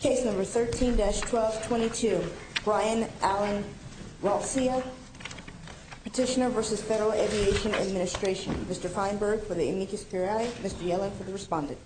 Case number 13-1222. Brian Allen Ralcia, Petitioner v. Federal Aviation Administration. Mr. Feinberg for the amicus curiae, Mr. Yellen for the respondent.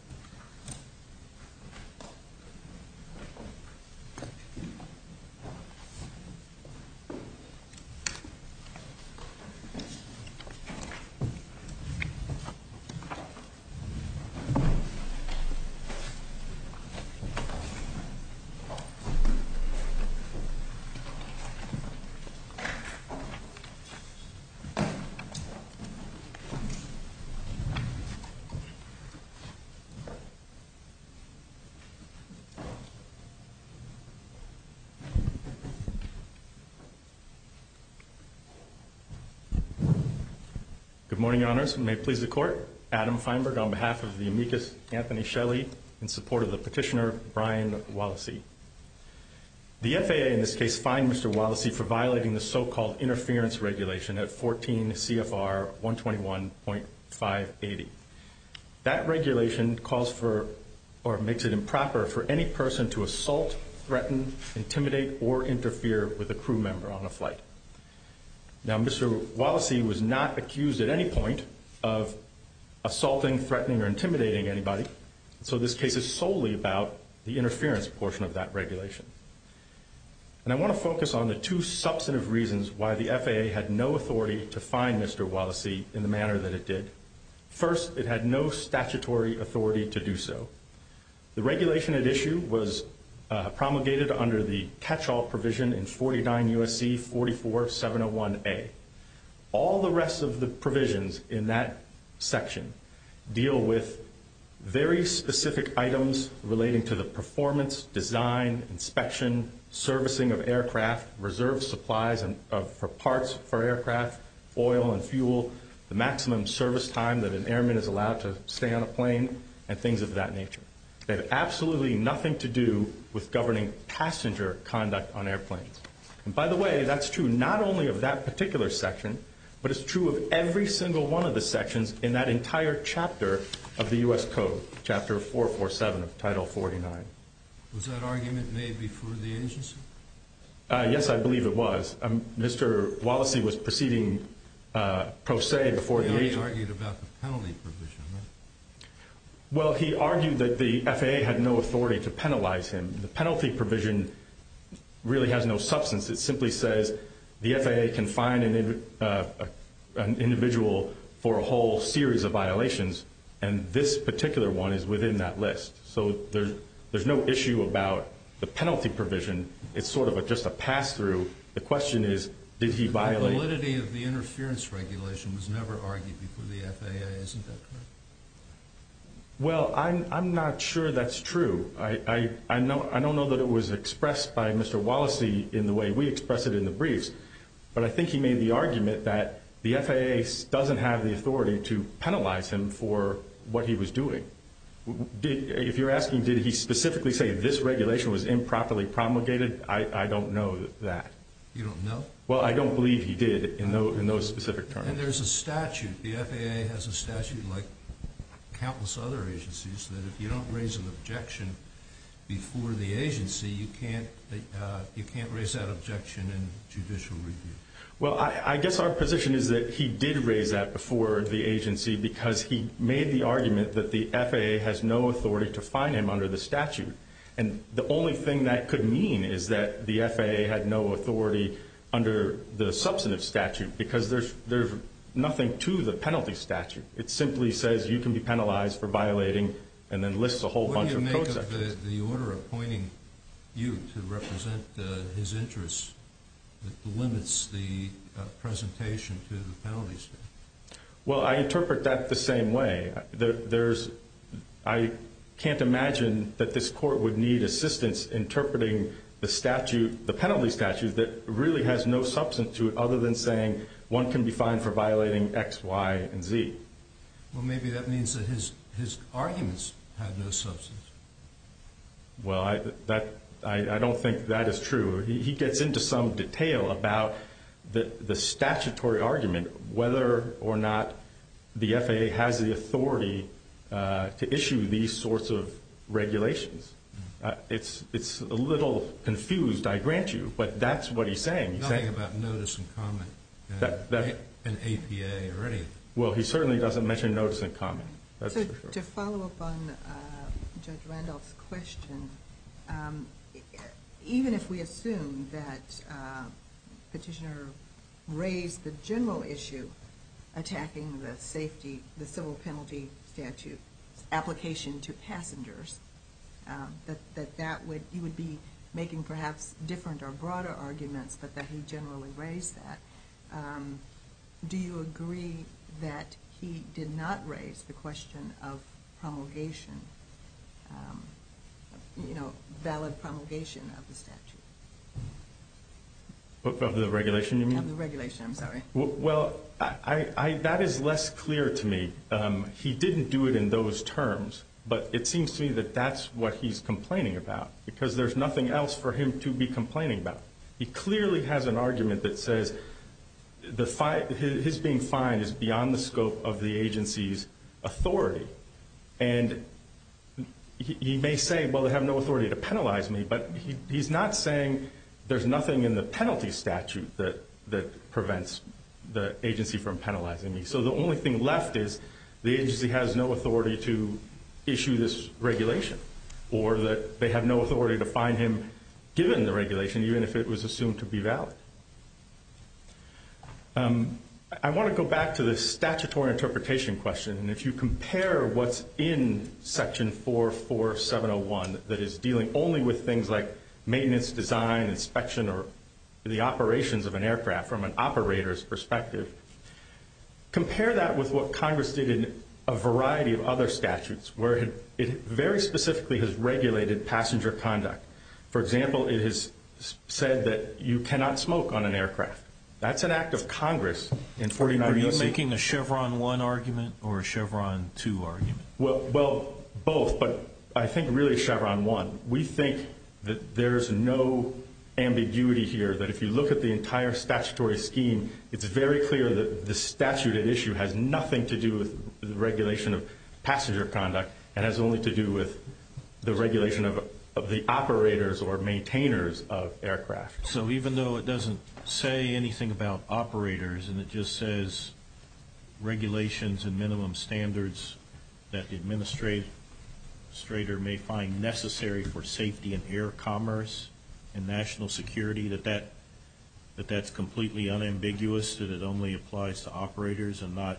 The amicus Anthony Shelley in support of the petitioner Brian Wallaese. The FAA in this case fined Mr. Wallaese for violating the so-called interference regulation at 14 CFR 121.580. That regulation calls for or makes it improper for any person to assault, threaten, intimidate, or interfere with a crew member on a flight. Now Mr. Wallaese was not accused at any point of assaulting, threatening, or intimidating anybody. So this case is solely about the interference portion of that regulation. And I want to focus on the two substantive reasons why the FAA had no authority to fine Mr. Wallaese in the manner that it did. First, it had no statutory authority to do so. The regulation at issue was promulgated under the catch-all provision in 49 U.S.C. 44701A. All the rest of the provisions in that section deal with very specific items relating to the performance, design, inspection, servicing of aircraft, reserve supplies for parts for aircraft, oil and fuel, the maximum service time that an airman is allowed to stay on a plane, and things of that nature. They have absolutely nothing to do with governing passenger conduct on airplanes. And by the way, that's true not only of that particular section, but it's true of every single one of the sections in that entire chapter of the U.S. Code, Chapter 447 of Title 49. Was that argument made before the agency? Yes, I believe it was. Mr. Wallaese was proceeding pro se before the agency. He argued about the penalty provision, right? Well, he argued that the FAA had no authority to penalize him. The penalty provision really has no substance. It simply says the FAA can fine an individual for a whole series of violations, and this particular one is within that list. So there's no issue about the penalty provision. It's sort of just a pass-through. The question is, did he violate it? The validity of the interference regulation was never argued before the FAA, isn't that correct? Well, I'm not sure that's true. I don't know that it was expressed by Mr. Wallaese in the way we express it in the briefs, but I think he made the argument that the FAA doesn't have the authority to penalize him for what he was doing. If you're asking, did he specifically say this regulation was improperly promulgated, I don't know that. You don't know? Well, I don't believe he did in those specific terms. And there's a statute. The FAA has a statute like countless other agencies that if you don't raise an objection before the agency, you can't raise that objection in judicial review. Well, I guess our position is that he did raise that before the agency because he made the argument that the FAA has no authority to fine him under the statute. And the only thing that could mean is that the FAA had no authority under the substantive statute because there's nothing to the penalty statute. What do you make of the order appointing you to represent his interests that limits the presentation to the penalty statute? Well, I interpret that the same way. I can't imagine that this court would need assistance interpreting the penalty statute that really has no substance to it other than saying one can be fined for violating X, Y, and Z. Well, maybe that means that his arguments have no substance. Well, I don't think that is true. He gets into some detail about the statutory argument whether or not the FAA has the authority to issue these sorts of regulations. It's a little confused, I grant you, but that's what he's saying. Nothing about notice and comment in APA or anything. Well, he certainly doesn't mention notice and comment. To follow up on Judge Randolph's question, even if we assume that Petitioner raised the general issue attacking the civil penalty statute application to passengers, that you would be making perhaps different or broader arguments but that he generally raised that, do you agree that he did not raise the question of promulgation, valid promulgation of the statute? Of the regulation you mean? Of the regulation, I'm sorry. Well, that is less clear to me. He didn't do it in those terms, but it seems to me that that's what he's complaining about because there's nothing else for him to be complaining about. He clearly has an argument that says his being fined is beyond the scope of the agency's authority. And he may say, well, they have no authority to penalize me, but he's not saying there's nothing in the penalty statute that prevents the agency from penalizing me. So the only thing left is the agency has no authority to issue this regulation or that they have no authority to fine him given the regulation, even if it was assumed to be valid. I want to go back to the statutory interpretation question. And if you compare what's in section 44701 that is dealing only with things like maintenance, design, inspection, or the operations of an aircraft from an operator's perspective, compare that with what Congress did in a variety of other statutes where it very specifically has regulated passenger conduct. For example, it has said that you cannot smoke on an aircraft. That's an act of Congress. Are you making a Chevron 1 argument or a Chevron 2 argument? Well, both, but I think really Chevron 1. We think that there's no ambiguity here, that if you look at the entire statutory scheme, it's very clear that the statute at issue has nothing to do with the regulation of passenger conduct and has only to do with the regulation of the operators or maintainers of aircraft. So even though it doesn't say anything about operators and it just says regulations and minimum standards that the administrator may find necessary for safety and air commerce and national security, that that's completely unambiguous, that it only applies to operators and not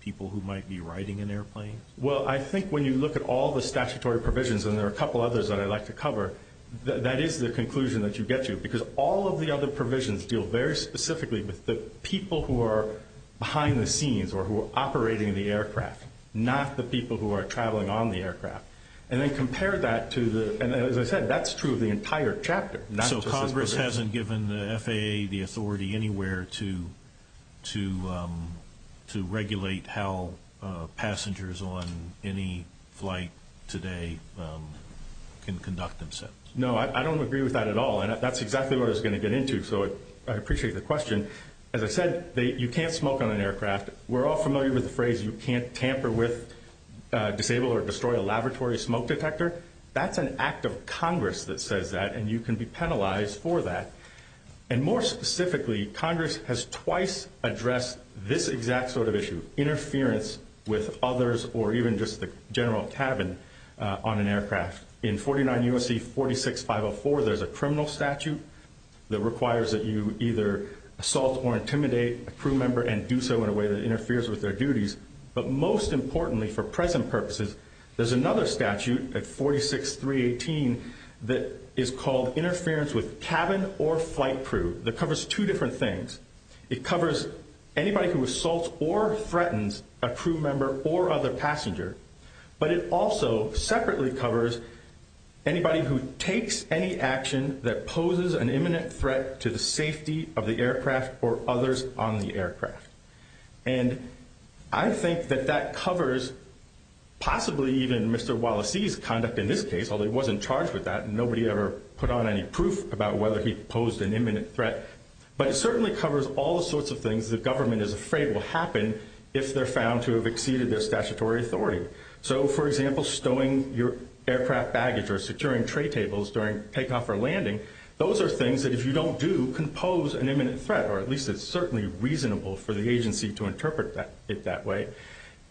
people who might be riding an airplane? Well, I think when you look at all the statutory provisions, and there are a couple others that I'd like to cover, that is the conclusion that you get to, because all of the other provisions deal very specifically with the people who are behind the scenes or who are operating the aircraft, not the people who are traveling on the aircraft. And then compare that to the – and as I said, that's true of the entire chapter, not just this provision. Congress hasn't given the FAA the authority anywhere to regulate how passengers on any flight today can conduct themselves? No, I don't agree with that at all, and that's exactly what I was going to get into, so I appreciate the question. As I said, you can't smoke on an aircraft. We're all familiar with the phrase you can't tamper with, disable, or destroy a laboratory smoke detector. That's an act of Congress that says that, and you can be penalized for that. And more specifically, Congress has twice addressed this exact sort of issue, interference with others or even just the general cabin on an aircraft. In 49 U.S.C. 46-504, there's a criminal statute that requires that you either assault or intimidate a crew member and do so in a way that interferes with their duties. But most importantly, for present purposes, there's another statute at 46-318 that is called interference with cabin or flight crew that covers two different things. It covers anybody who assaults or threatens a crew member or other passenger, but it also separately covers anybody who takes any action that poses an imminent threat to the safety of the aircraft or others on the aircraft. And I think that that covers possibly even Mr. Wallace's conduct in this case, although he wasn't charged with that. Nobody ever put on any proof about whether he posed an imminent threat. But it certainly covers all sorts of things the government is afraid will happen if they're found to have exceeded their statutory authority. So, for example, stowing your aircraft baggage or securing tray tables during takeoff or landing, those are things that if you don't do, can pose an imminent threat. Or at least it's certainly reasonable for the agency to interpret it that way.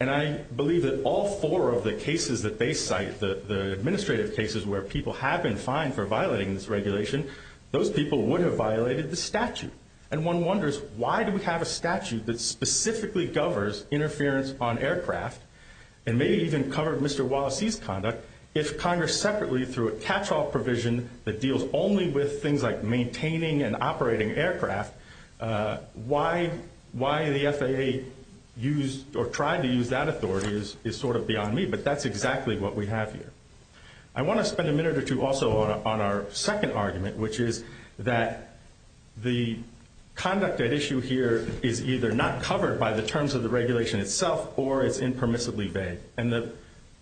And I believe that all four of the cases that they cite, the administrative cases where people have been fined for violating this regulation, those people would have violated the statute. And one wonders, why do we have a statute that specifically covers interference on aircraft and maybe even covered Mr. Wallace's conduct if Congress separately threw a catch-all provision that deals only with things like maintaining and operating aircraft? Why the FAA used or tried to use that authority is sort of beyond me, but that's exactly what we have here. I want to spend a minute or two also on our second argument, which is that the conduct at issue here is either not covered by the terms of the regulation itself or it's impermissibly vague. And the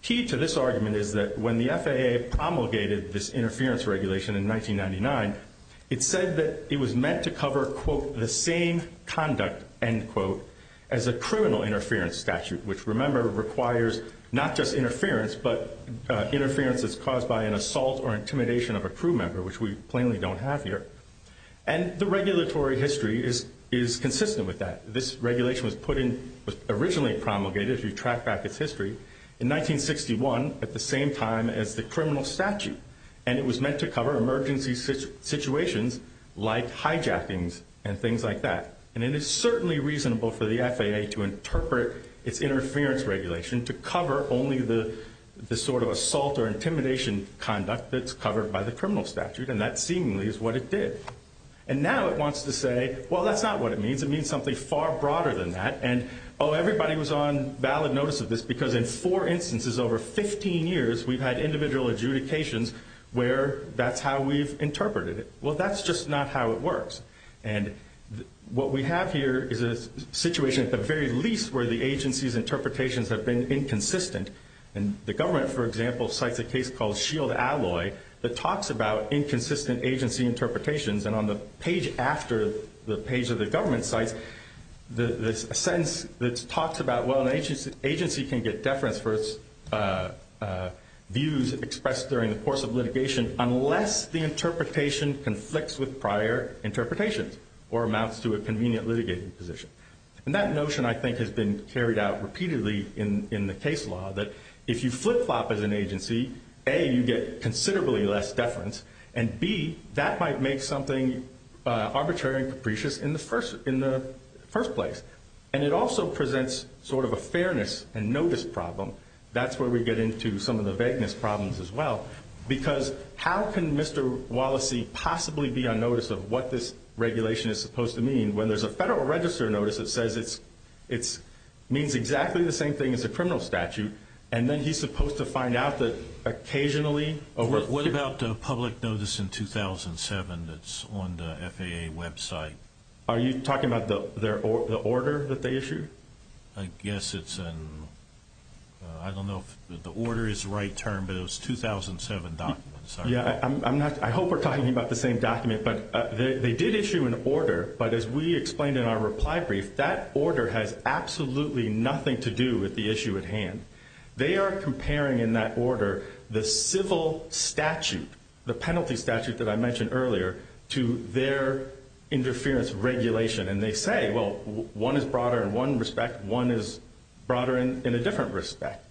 key to this argument is that when the FAA promulgated this interference regulation in 1999, it said that it was meant to cover, quote, the same conduct, end quote, as a criminal interference statute. Which, remember, requires not just interference, but interference that's caused by an assault or intimidation of a crew member, which we plainly don't have here. And the regulatory history is consistent with that. This regulation was originally promulgated, if you track back its history, in 1961 at the same time as the criminal statute. And it was meant to cover emergency situations like hijackings and things like that. And it is certainly reasonable for the FAA to interpret its interference regulation to cover only the sort of assault or intimidation conduct that's covered by the criminal statute. And that seemingly is what it did. And now it wants to say, well, that's not what it means. It means something far broader than that. And, oh, everybody was on valid notice of this because in four instances over 15 years, we've had individual adjudications where that's how we've interpreted it. Well, that's just not how it works. And what we have here is a situation at the very least where the agency's interpretations have been inconsistent. And the government, for example, cites a case called Shield Alloy that talks about inconsistent agency interpretations. And on the page after the page of the government cites a sentence that talks about, well, an agency can get deference for its views expressed during the course of litigation unless the interpretation conflicts with prior interpretations or amounts to a convenient litigating position. And that notion, I think, has been carried out repeatedly in the case law that if you flip-flop as an agency, A, you get considerably less deference, and B, that might make something arbitrary and capricious in the first place. And it also presents sort of a fairness and notice problem. That's where we get into some of the vagueness problems as well because how can Mr. Wallacey possibly be on notice of what this regulation is supposed to mean when there's a federal register notice that says it means exactly the same thing as a criminal statute, and then he's supposed to find out that occasionally over a period of time. What about the public notice in 2007 that's on the FAA website? Are you talking about the order that they issued? I guess it's an – I don't know if the order is the right term, but it was 2007 documents. Yeah, I hope we're talking about the same document. But they did issue an order, but as we explained in our reply brief, that order has absolutely nothing to do with the issue at hand. They are comparing in that order the civil statute, the penalty statute that I mentioned earlier, to their interference regulation. And they say, well, one is broader in one respect, one is broader in a different respect.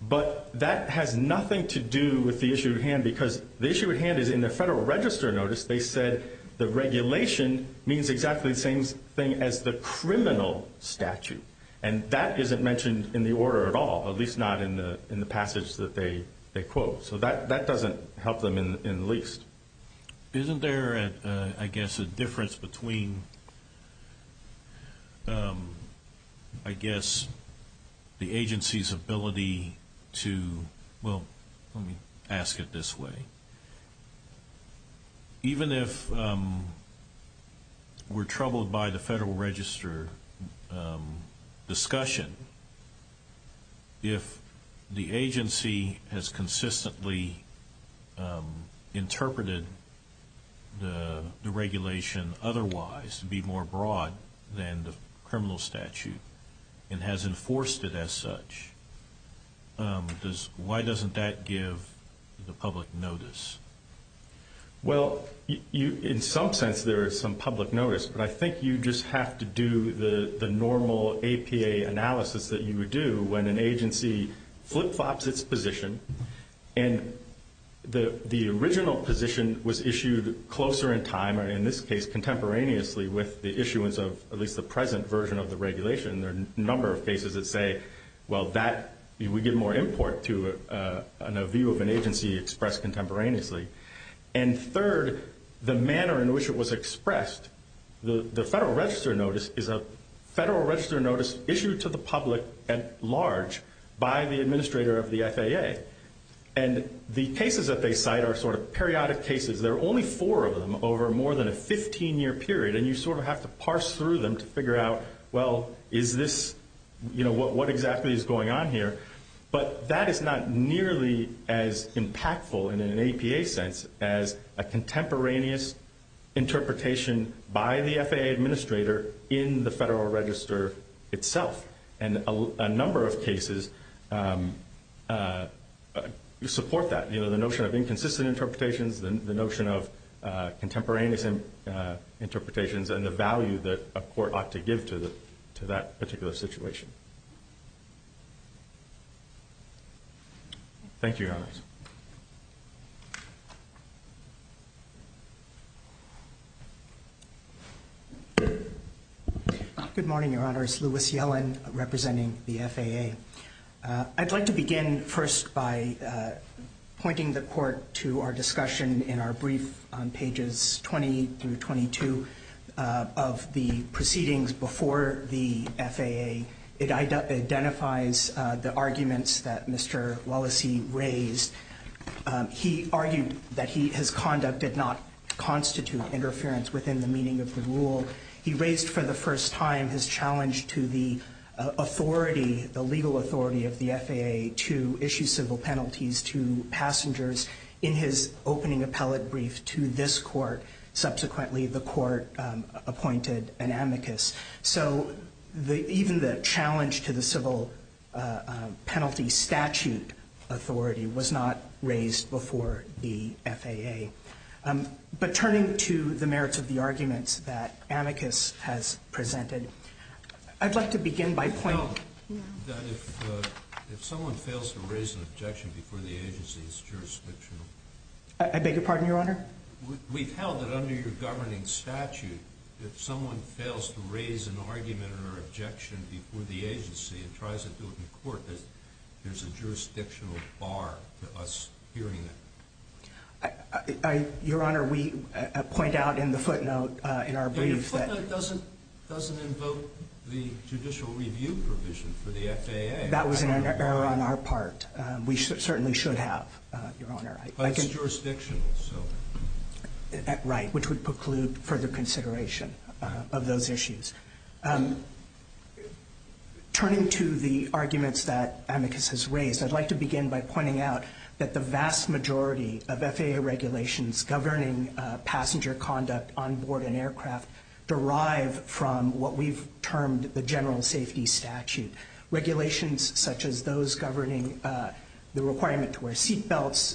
But that has nothing to do with the issue at hand because the issue at hand is in the federal register notice, they said the regulation means exactly the same thing as the criminal statute. And that isn't mentioned in the order at all, at least not in the passage that they quote. So that doesn't help them in the least. Isn't there, I guess, a difference between, I guess, the agency's ability to – well, let me ask it this way. Even if we're troubled by the federal register discussion, if the agency has consistently interpreted the regulation otherwise to be more broad than the criminal statute and has enforced it as such, why doesn't that give the public notice? Well, in some sense, there is some public notice. But I think you just have to do the normal APA analysis that you would do when an agency flip-flops its position And the original position was issued closer in time, or in this case contemporaneously, with the issuance of at least the present version of the regulation. There are a number of cases that say, well, that would give more import to a view of an agency expressed contemporaneously. And third, the manner in which it was expressed, the federal register notice is a federal register notice issued to the public at large by the administrator of the FAA. And the cases that they cite are sort of periodic cases. There are only four of them over more than a 15-year period. And you sort of have to parse through them to figure out, well, is this – you know, what exactly is going on here? But that is not nearly as impactful in an APA sense as a contemporaneous interpretation by the FAA administrator in the federal register itself. And a number of cases support that. You know, the notion of inconsistent interpretations, the notion of contemporaneous interpretations, and the value that a court ought to give to that particular situation. Thank you, Your Honors. Good morning, Your Honors. Louis Yellen representing the FAA. I'd like to begin first by pointing the court to our discussion in our brief on pages 20 through 22 of the proceedings before the FAA. It identifies the arguments that Mr. Wallacey raised. He argued that his conduct did not constitute interference within the meaning of the rule. He raised for the first time his challenge to the authority, the legal authority of the FAA, to issue civil penalties to passengers in his opening appellate brief to this court. Subsequently, the court appointed an amicus. So even the challenge to the civil penalty statute authority was not raised before the FAA. But turning to the merits of the arguments that amicus has presented, I'd like to begin by pointing- We've held that if someone fails to raise an objection before the agency, it's jurisdictional. We've held that under your governing statute, if someone fails to raise an argument or objection before the agency and tries to do it in court, there's a jurisdictional bar to us hearing it. Your Honor, we point out in the footnote in our brief that- Your footnote doesn't invoke the judicial review provision for the FAA. That was an error on our part. We certainly should have, Your Honor. But it's jurisdictional, so- Right, which would preclude further consideration of those issues. Turning to the arguments that amicus has raised, I'd like to begin by pointing out that the vast majority of FAA regulations governing passenger conduct on board an aircraft derive from what we've termed the general safety statute. Regulations such as those governing the requirement to wear seat belts,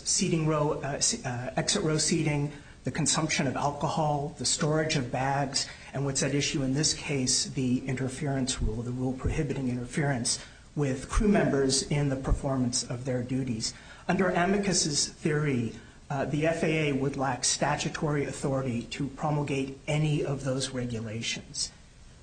exit row seating, the consumption of alcohol, the storage of bags, and what's at issue in this case, the interference rule, the rule prohibiting interference with crew members in the performance of their duties. Under amicus's theory, the FAA would lack statutory authority to promulgate any of those regulations.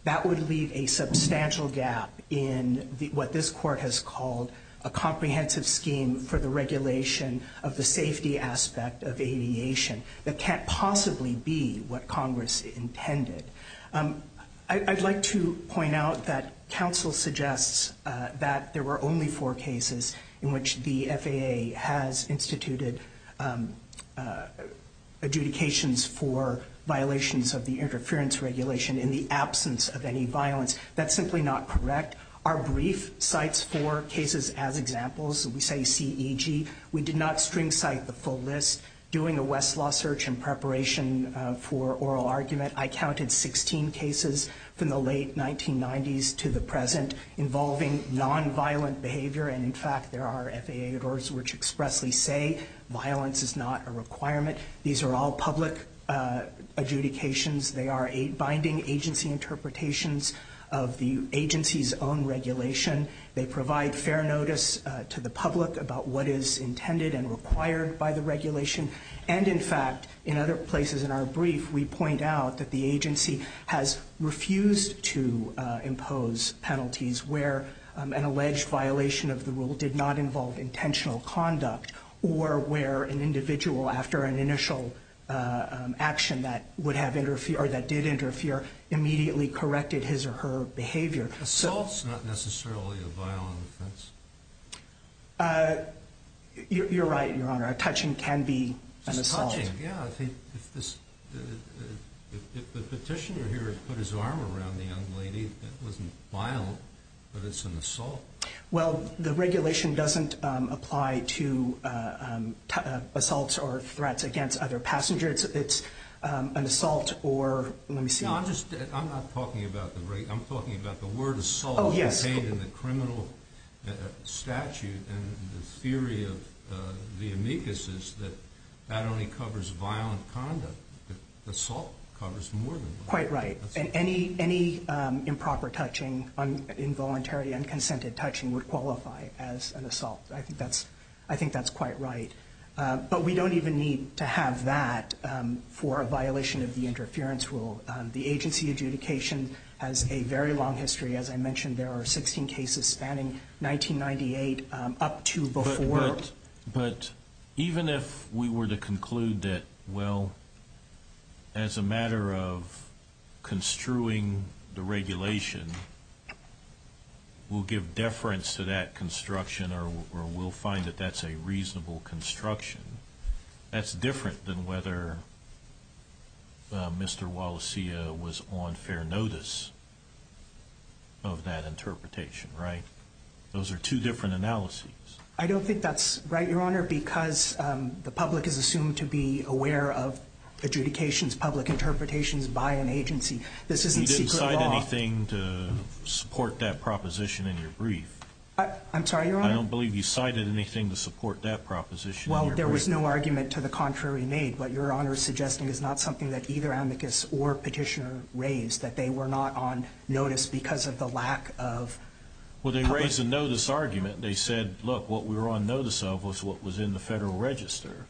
That would leave a substantial gap in what this court has called a comprehensive scheme for the regulation of the safety aspect of aviation that can't possibly be what Congress intended. I'd like to point out that counsel suggests that there were only four cases in which the FAA has instituted adjudications for violations of the interference regulation in the absence of any violence. That's simply not correct. Our brief cites four cases as examples. We say CEG. We did not string cite the full list. Doing a Westlaw search in preparation for oral argument, I counted 16 cases from the late 1990s to the present involving nonviolent behavior. In fact, there are FAA orders which expressly say violence is not a requirement. These are all public adjudications. They are binding agency interpretations of the agency's own regulation. They provide fair notice to the public about what is intended and required by the regulation. In fact, in other places in our brief, we point out that the agency has refused to impose penalties where an alleged violation of the rule did not involve intentional conduct or where an individual, after an initial action that did interfere, immediately corrected his or her behavior. Assault is not necessarily a violent offense. You're right, Your Honor. A touching can be an assault. Yeah, I think if the petitioner here had put his arm around the young lady, that wasn't violent, but it's an assault. Well, the regulation doesn't apply to assaults or threats against other passengers. It's an assault or, let me see. No, I'm not talking about the regulation. I'm talking about the word assault contained in the criminal statute and the theory of the amicuses that that only covers violent conduct. Assault covers more than that. Quite right. And any improper touching, involuntary, unconsented touching would qualify as an assault. I think that's quite right. But we don't even need to have that for a violation of the interference rule. The agency adjudication has a very long history. As I mentioned, there are 16 cases spanning 1998 up to before. But even if we were to conclude that, well, as a matter of construing the regulation, we'll give deference to that construction or we'll find that that's a reasonable construction, that's different than whether Mr. Wallacea was on fair notice of that interpretation, right? Those are two different analyses. I don't think that's right, Your Honor, because the public is assumed to be aware of adjudications, public interpretations by an agency. This isn't secret law. You didn't cite anything to support that proposition in your brief. I'm sorry, Your Honor? I don't believe you cited anything to support that proposition in your brief. Well, there was no argument to the contrary made. What Your Honor is suggesting is not something that either amicus or petitioner raised, that they were not on notice because of the lack of public. Well, they raised a notice argument. They said, look, what we were on notice of was what was in the Federal Register.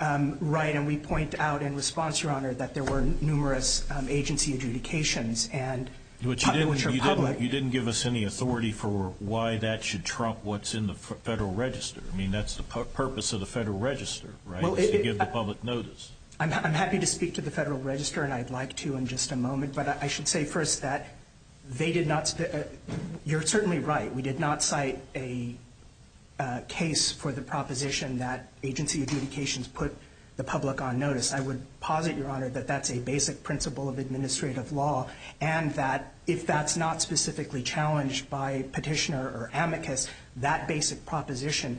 Right. And we point out in response, Your Honor, that there were numerous agency adjudications, You didn't give us any authority for why that should trump what's in the Federal Register. I mean, that's the purpose of the Federal Register, right, is to give the public notice. I'm happy to speak to the Federal Register, and I'd like to in just a moment, but I should say first that they did not – you're certainly right. We did not cite a case for the proposition that agency adjudications put the public on notice. I would posit, Your Honor, that that's a basic principle of administrative law and that if that's not specifically challenged by petitioner or amicus, that basic proposition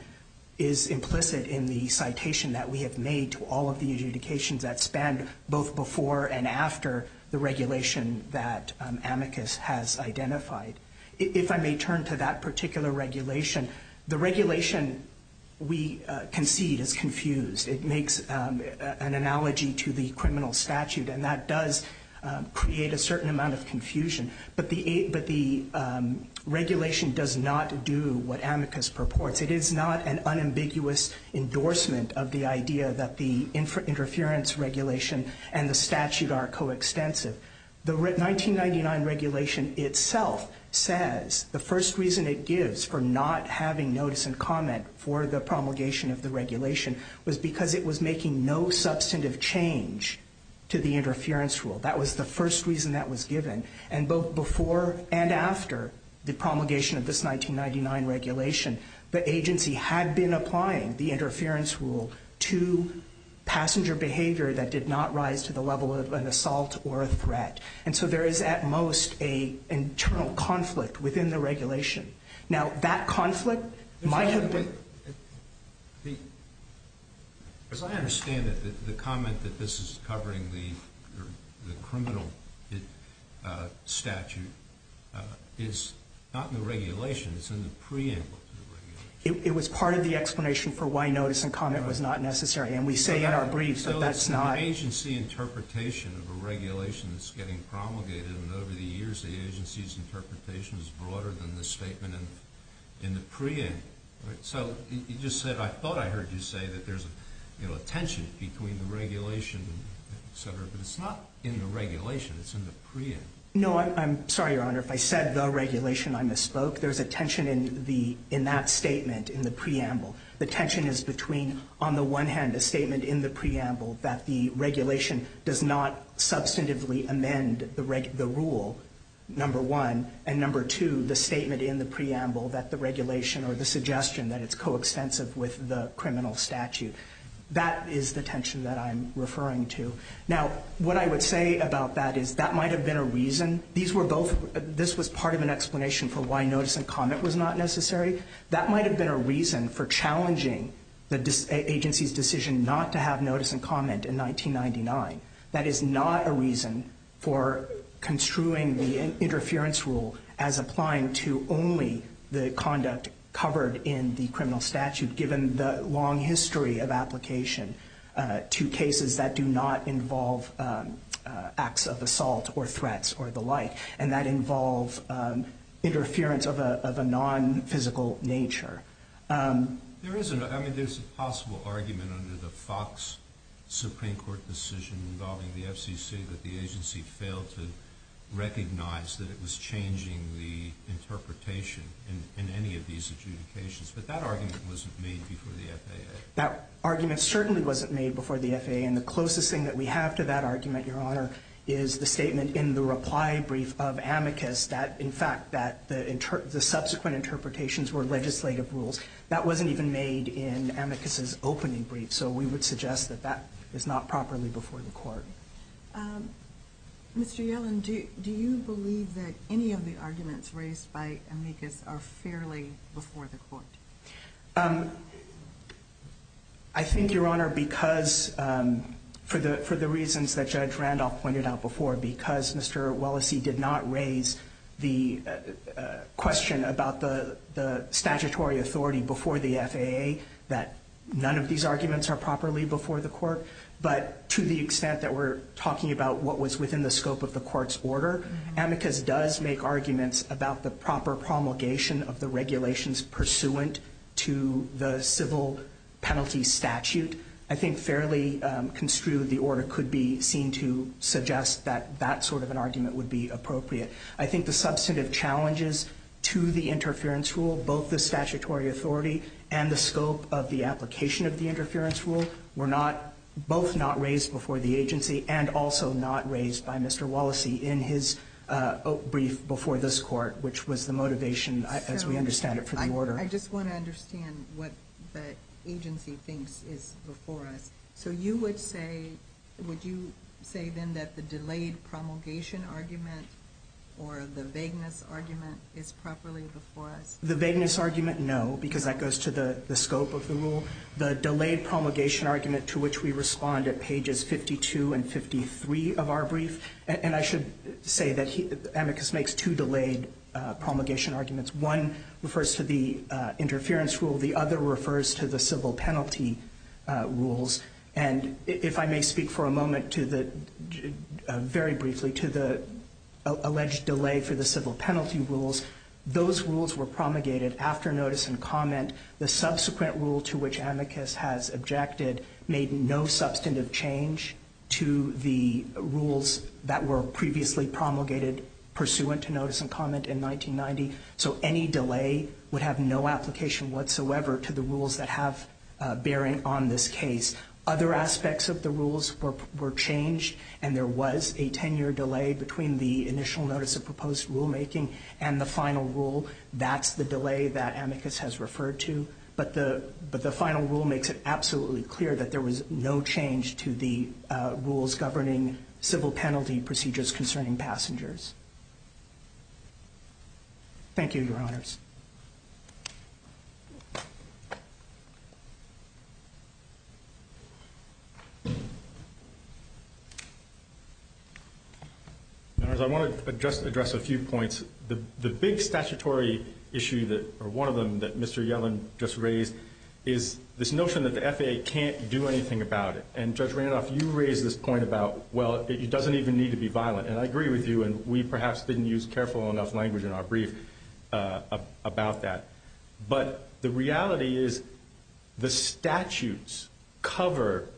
is implicit in the citation that we have made to all of the adjudications that spanned both before and after the regulation that amicus has identified. If I may turn to that particular regulation, the regulation we concede is confused. It makes an analogy to the criminal statute, and that does create a certain amount of confusion. But the regulation does not do what amicus purports. It is not an unambiguous endorsement of the idea that the interference regulation and the statute are coextensive. The 1999 regulation itself says the first reason it gives for not having notice and comment for the promulgation of the regulation was because it was making no substantive change to the interference rule. That was the first reason that was given. And both before and after the promulgation of this 1999 regulation, the agency had been applying the interference rule to passenger behavior that did not rise to the level of an assault or a threat. And so there is at most an internal conflict within the regulation. Now, that conflict might have been... As I understand it, the comment that this is covering the criminal statute is not in the regulation. It's in the preamble to the regulation. It was part of the explanation for why notice and comment was not necessary. And we say in our briefs that that's not... So it's the agency interpretation of a regulation that's getting promulgated, and over the years, the agency's interpretation is broader than the statement in the preamble. So you just said... I thought I heard you say that there's a tension between the regulation, etc., but it's not in the regulation. It's in the preamble. No, I'm sorry, Your Honor. If I said the regulation, I misspoke. There's a tension in that statement in the preamble. The tension is between, on the one hand, a statement in the preamble that the regulation does not substantively amend the rule, number one, and, number two, the statement in the preamble that the regulation or the suggestion that it's coextensive with the criminal statute. That is the tension that I'm referring to. Now, what I would say about that is that might have been a reason. These were both... This was part of an explanation for why notice and comment was not necessary. That might have been a reason for challenging the agency's decision not to have notice and comment in 1999. That is not a reason for construing the interference rule as applying to only the conduct covered in the criminal statute, given the long history of application to cases that do not involve acts of assault or threats or the like, and that involve interference of a non-physical nature. There's a possible argument under the Fox Supreme Court decision involving the FCC that the agency failed to recognize that it was changing the interpretation in any of these adjudications, but that argument wasn't made before the FAA. That argument certainly wasn't made before the FAA, and the closest thing that we have to that argument, Your Honor, is the statement in the reply brief of Amicus that, in fact, that the subsequent interpretations were legislative rules. That wasn't even made in Amicus's opening brief, so we would suggest that that is not properly before the Court. Mr. Yellen, do you believe that any of the arguments raised by Amicus are fairly before the Court? I think, Your Honor, because for the reasons that Judge Randolph pointed out before, because Mr. Wellesey did not raise the question about the statutory authority before the FAA that none of these arguments are properly before the Court, but to the extent that we're talking about what was within the scope of the Court's order, Amicus does make arguments about the proper promulgation of the regulations pursuant to the civil penalty statute. I think fairly construed, the order could be seen to suggest that that sort of an argument would be appropriate. I think the substantive challenges to the interference rule, both the statutory authority and the scope of the application of the interference rule, were both not raised before the agency and also not raised by Mr. Wellesey in his brief before this Court, which was the motivation, as we understand it, for the order. I just want to understand what the agency thinks is before us. So you would say, would you say then that the delayed promulgation argument or the vagueness argument is properly before us? The vagueness argument, no, because that goes to the scope of the rule. The delayed promulgation argument to which we respond at pages 52 and 53 of our brief, and I should say that Amicus makes two delayed promulgation arguments. One refers to the interference rule. The other refers to the civil penalty rules. And if I may speak for a moment to the, very briefly, to the alleged delay for the civil penalty rules, those rules were promulgated after notice and comment. The subsequent rule to which Amicus has objected made no substantive change to the rules that were previously promulgated pursuant to notice and comment in 1990. So any delay would have no application whatsoever to the rules that have bearing on this case. Other aspects of the rules were changed, and there was a 10-year delay between the initial notice of proposed rulemaking and the final rule. That's the delay that Amicus has referred to. But the final rule makes it absolutely clear that there was no change to the rules governing civil penalty procedures concerning passengers. Thank you, Your Honors. I want to just address a few points. The big statutory issue or one of them that Mr. Yellen just raised is this notion that the FAA can't do anything about it. And Judge Randolph, you raised this point about, well, it doesn't even need to be violent. And I agree with you, and we perhaps didn't use careful enough language in our brief about that. But the reality is the statutes cover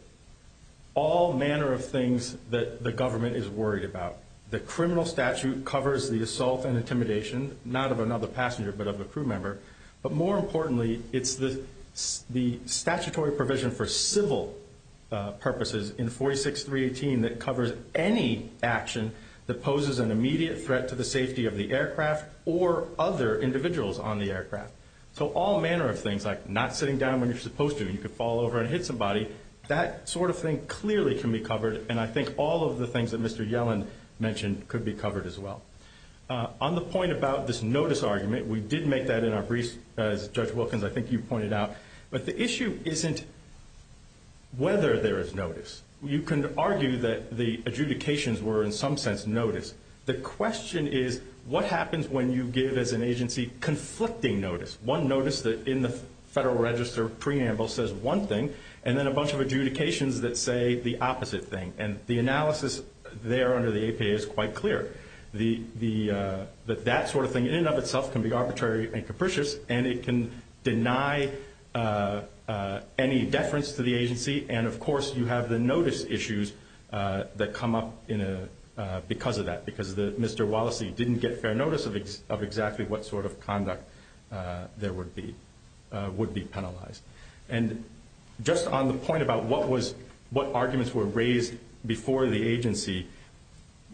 all manner of things that the government is worried about. The criminal statute covers the assault and intimidation, not of another passenger, but of a crew member. But more importantly, it's the statutory provision for civil purposes in 46.318 that covers any action that poses an immediate threat to the safety of the aircraft or other individuals on the aircraft. So all manner of things, like not sitting down when you're supposed to, you could fall over and hit somebody, that sort of thing clearly can be covered, and I think all of the things that Mr. Yellen mentioned could be covered as well. On the point about this notice argument, we did make that in our brief, as Judge Wilkins, I think you pointed out, but the issue isn't whether there is notice. You can argue that the adjudications were, in some sense, notice. The question is what happens when you give, as an agency, conflicting notice, one notice that in the Federal Register preamble says one thing and then a bunch of adjudications that say the opposite thing. And the analysis there under the APA is quite clear. That sort of thing in and of itself can be arbitrary and capricious, and it can deny any deference to the agency, and of course you have the notice issues that come up because of that, because Mr. Wallacey didn't get fair notice of exactly what sort of conduct there would be penalized. And just on the point about what arguments were raised before the agency,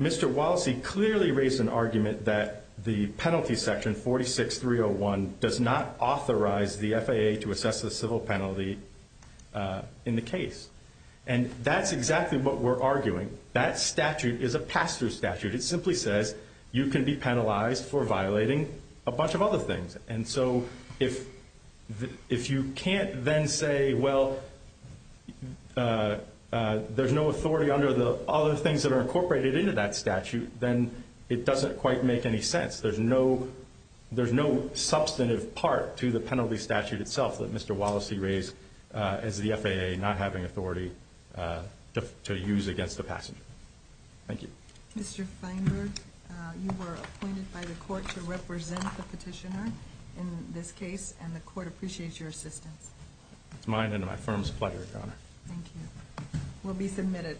Mr. Wallacey clearly raised an argument that the penalty section, 46301, does not authorize the FAA to assess the civil penalty in the case. And that's exactly what we're arguing. That statute is a pass-through statute. It simply says you can be penalized for violating a bunch of other things. And so if you can't then say, well, there's no authority under the other things that are incorporated into that statute, then it doesn't quite make any sense. There's no substantive part to the penalty statute itself that Mr. Wallacey raised as the FAA not having authority to use against the passenger. Thank you. Mr. Feinberg, you were appointed by the court to represent the petitioner in this case, and the court appreciates your assistance. It's mine and my firm's pleasure, Your Honor. Thank you. We'll be submitted.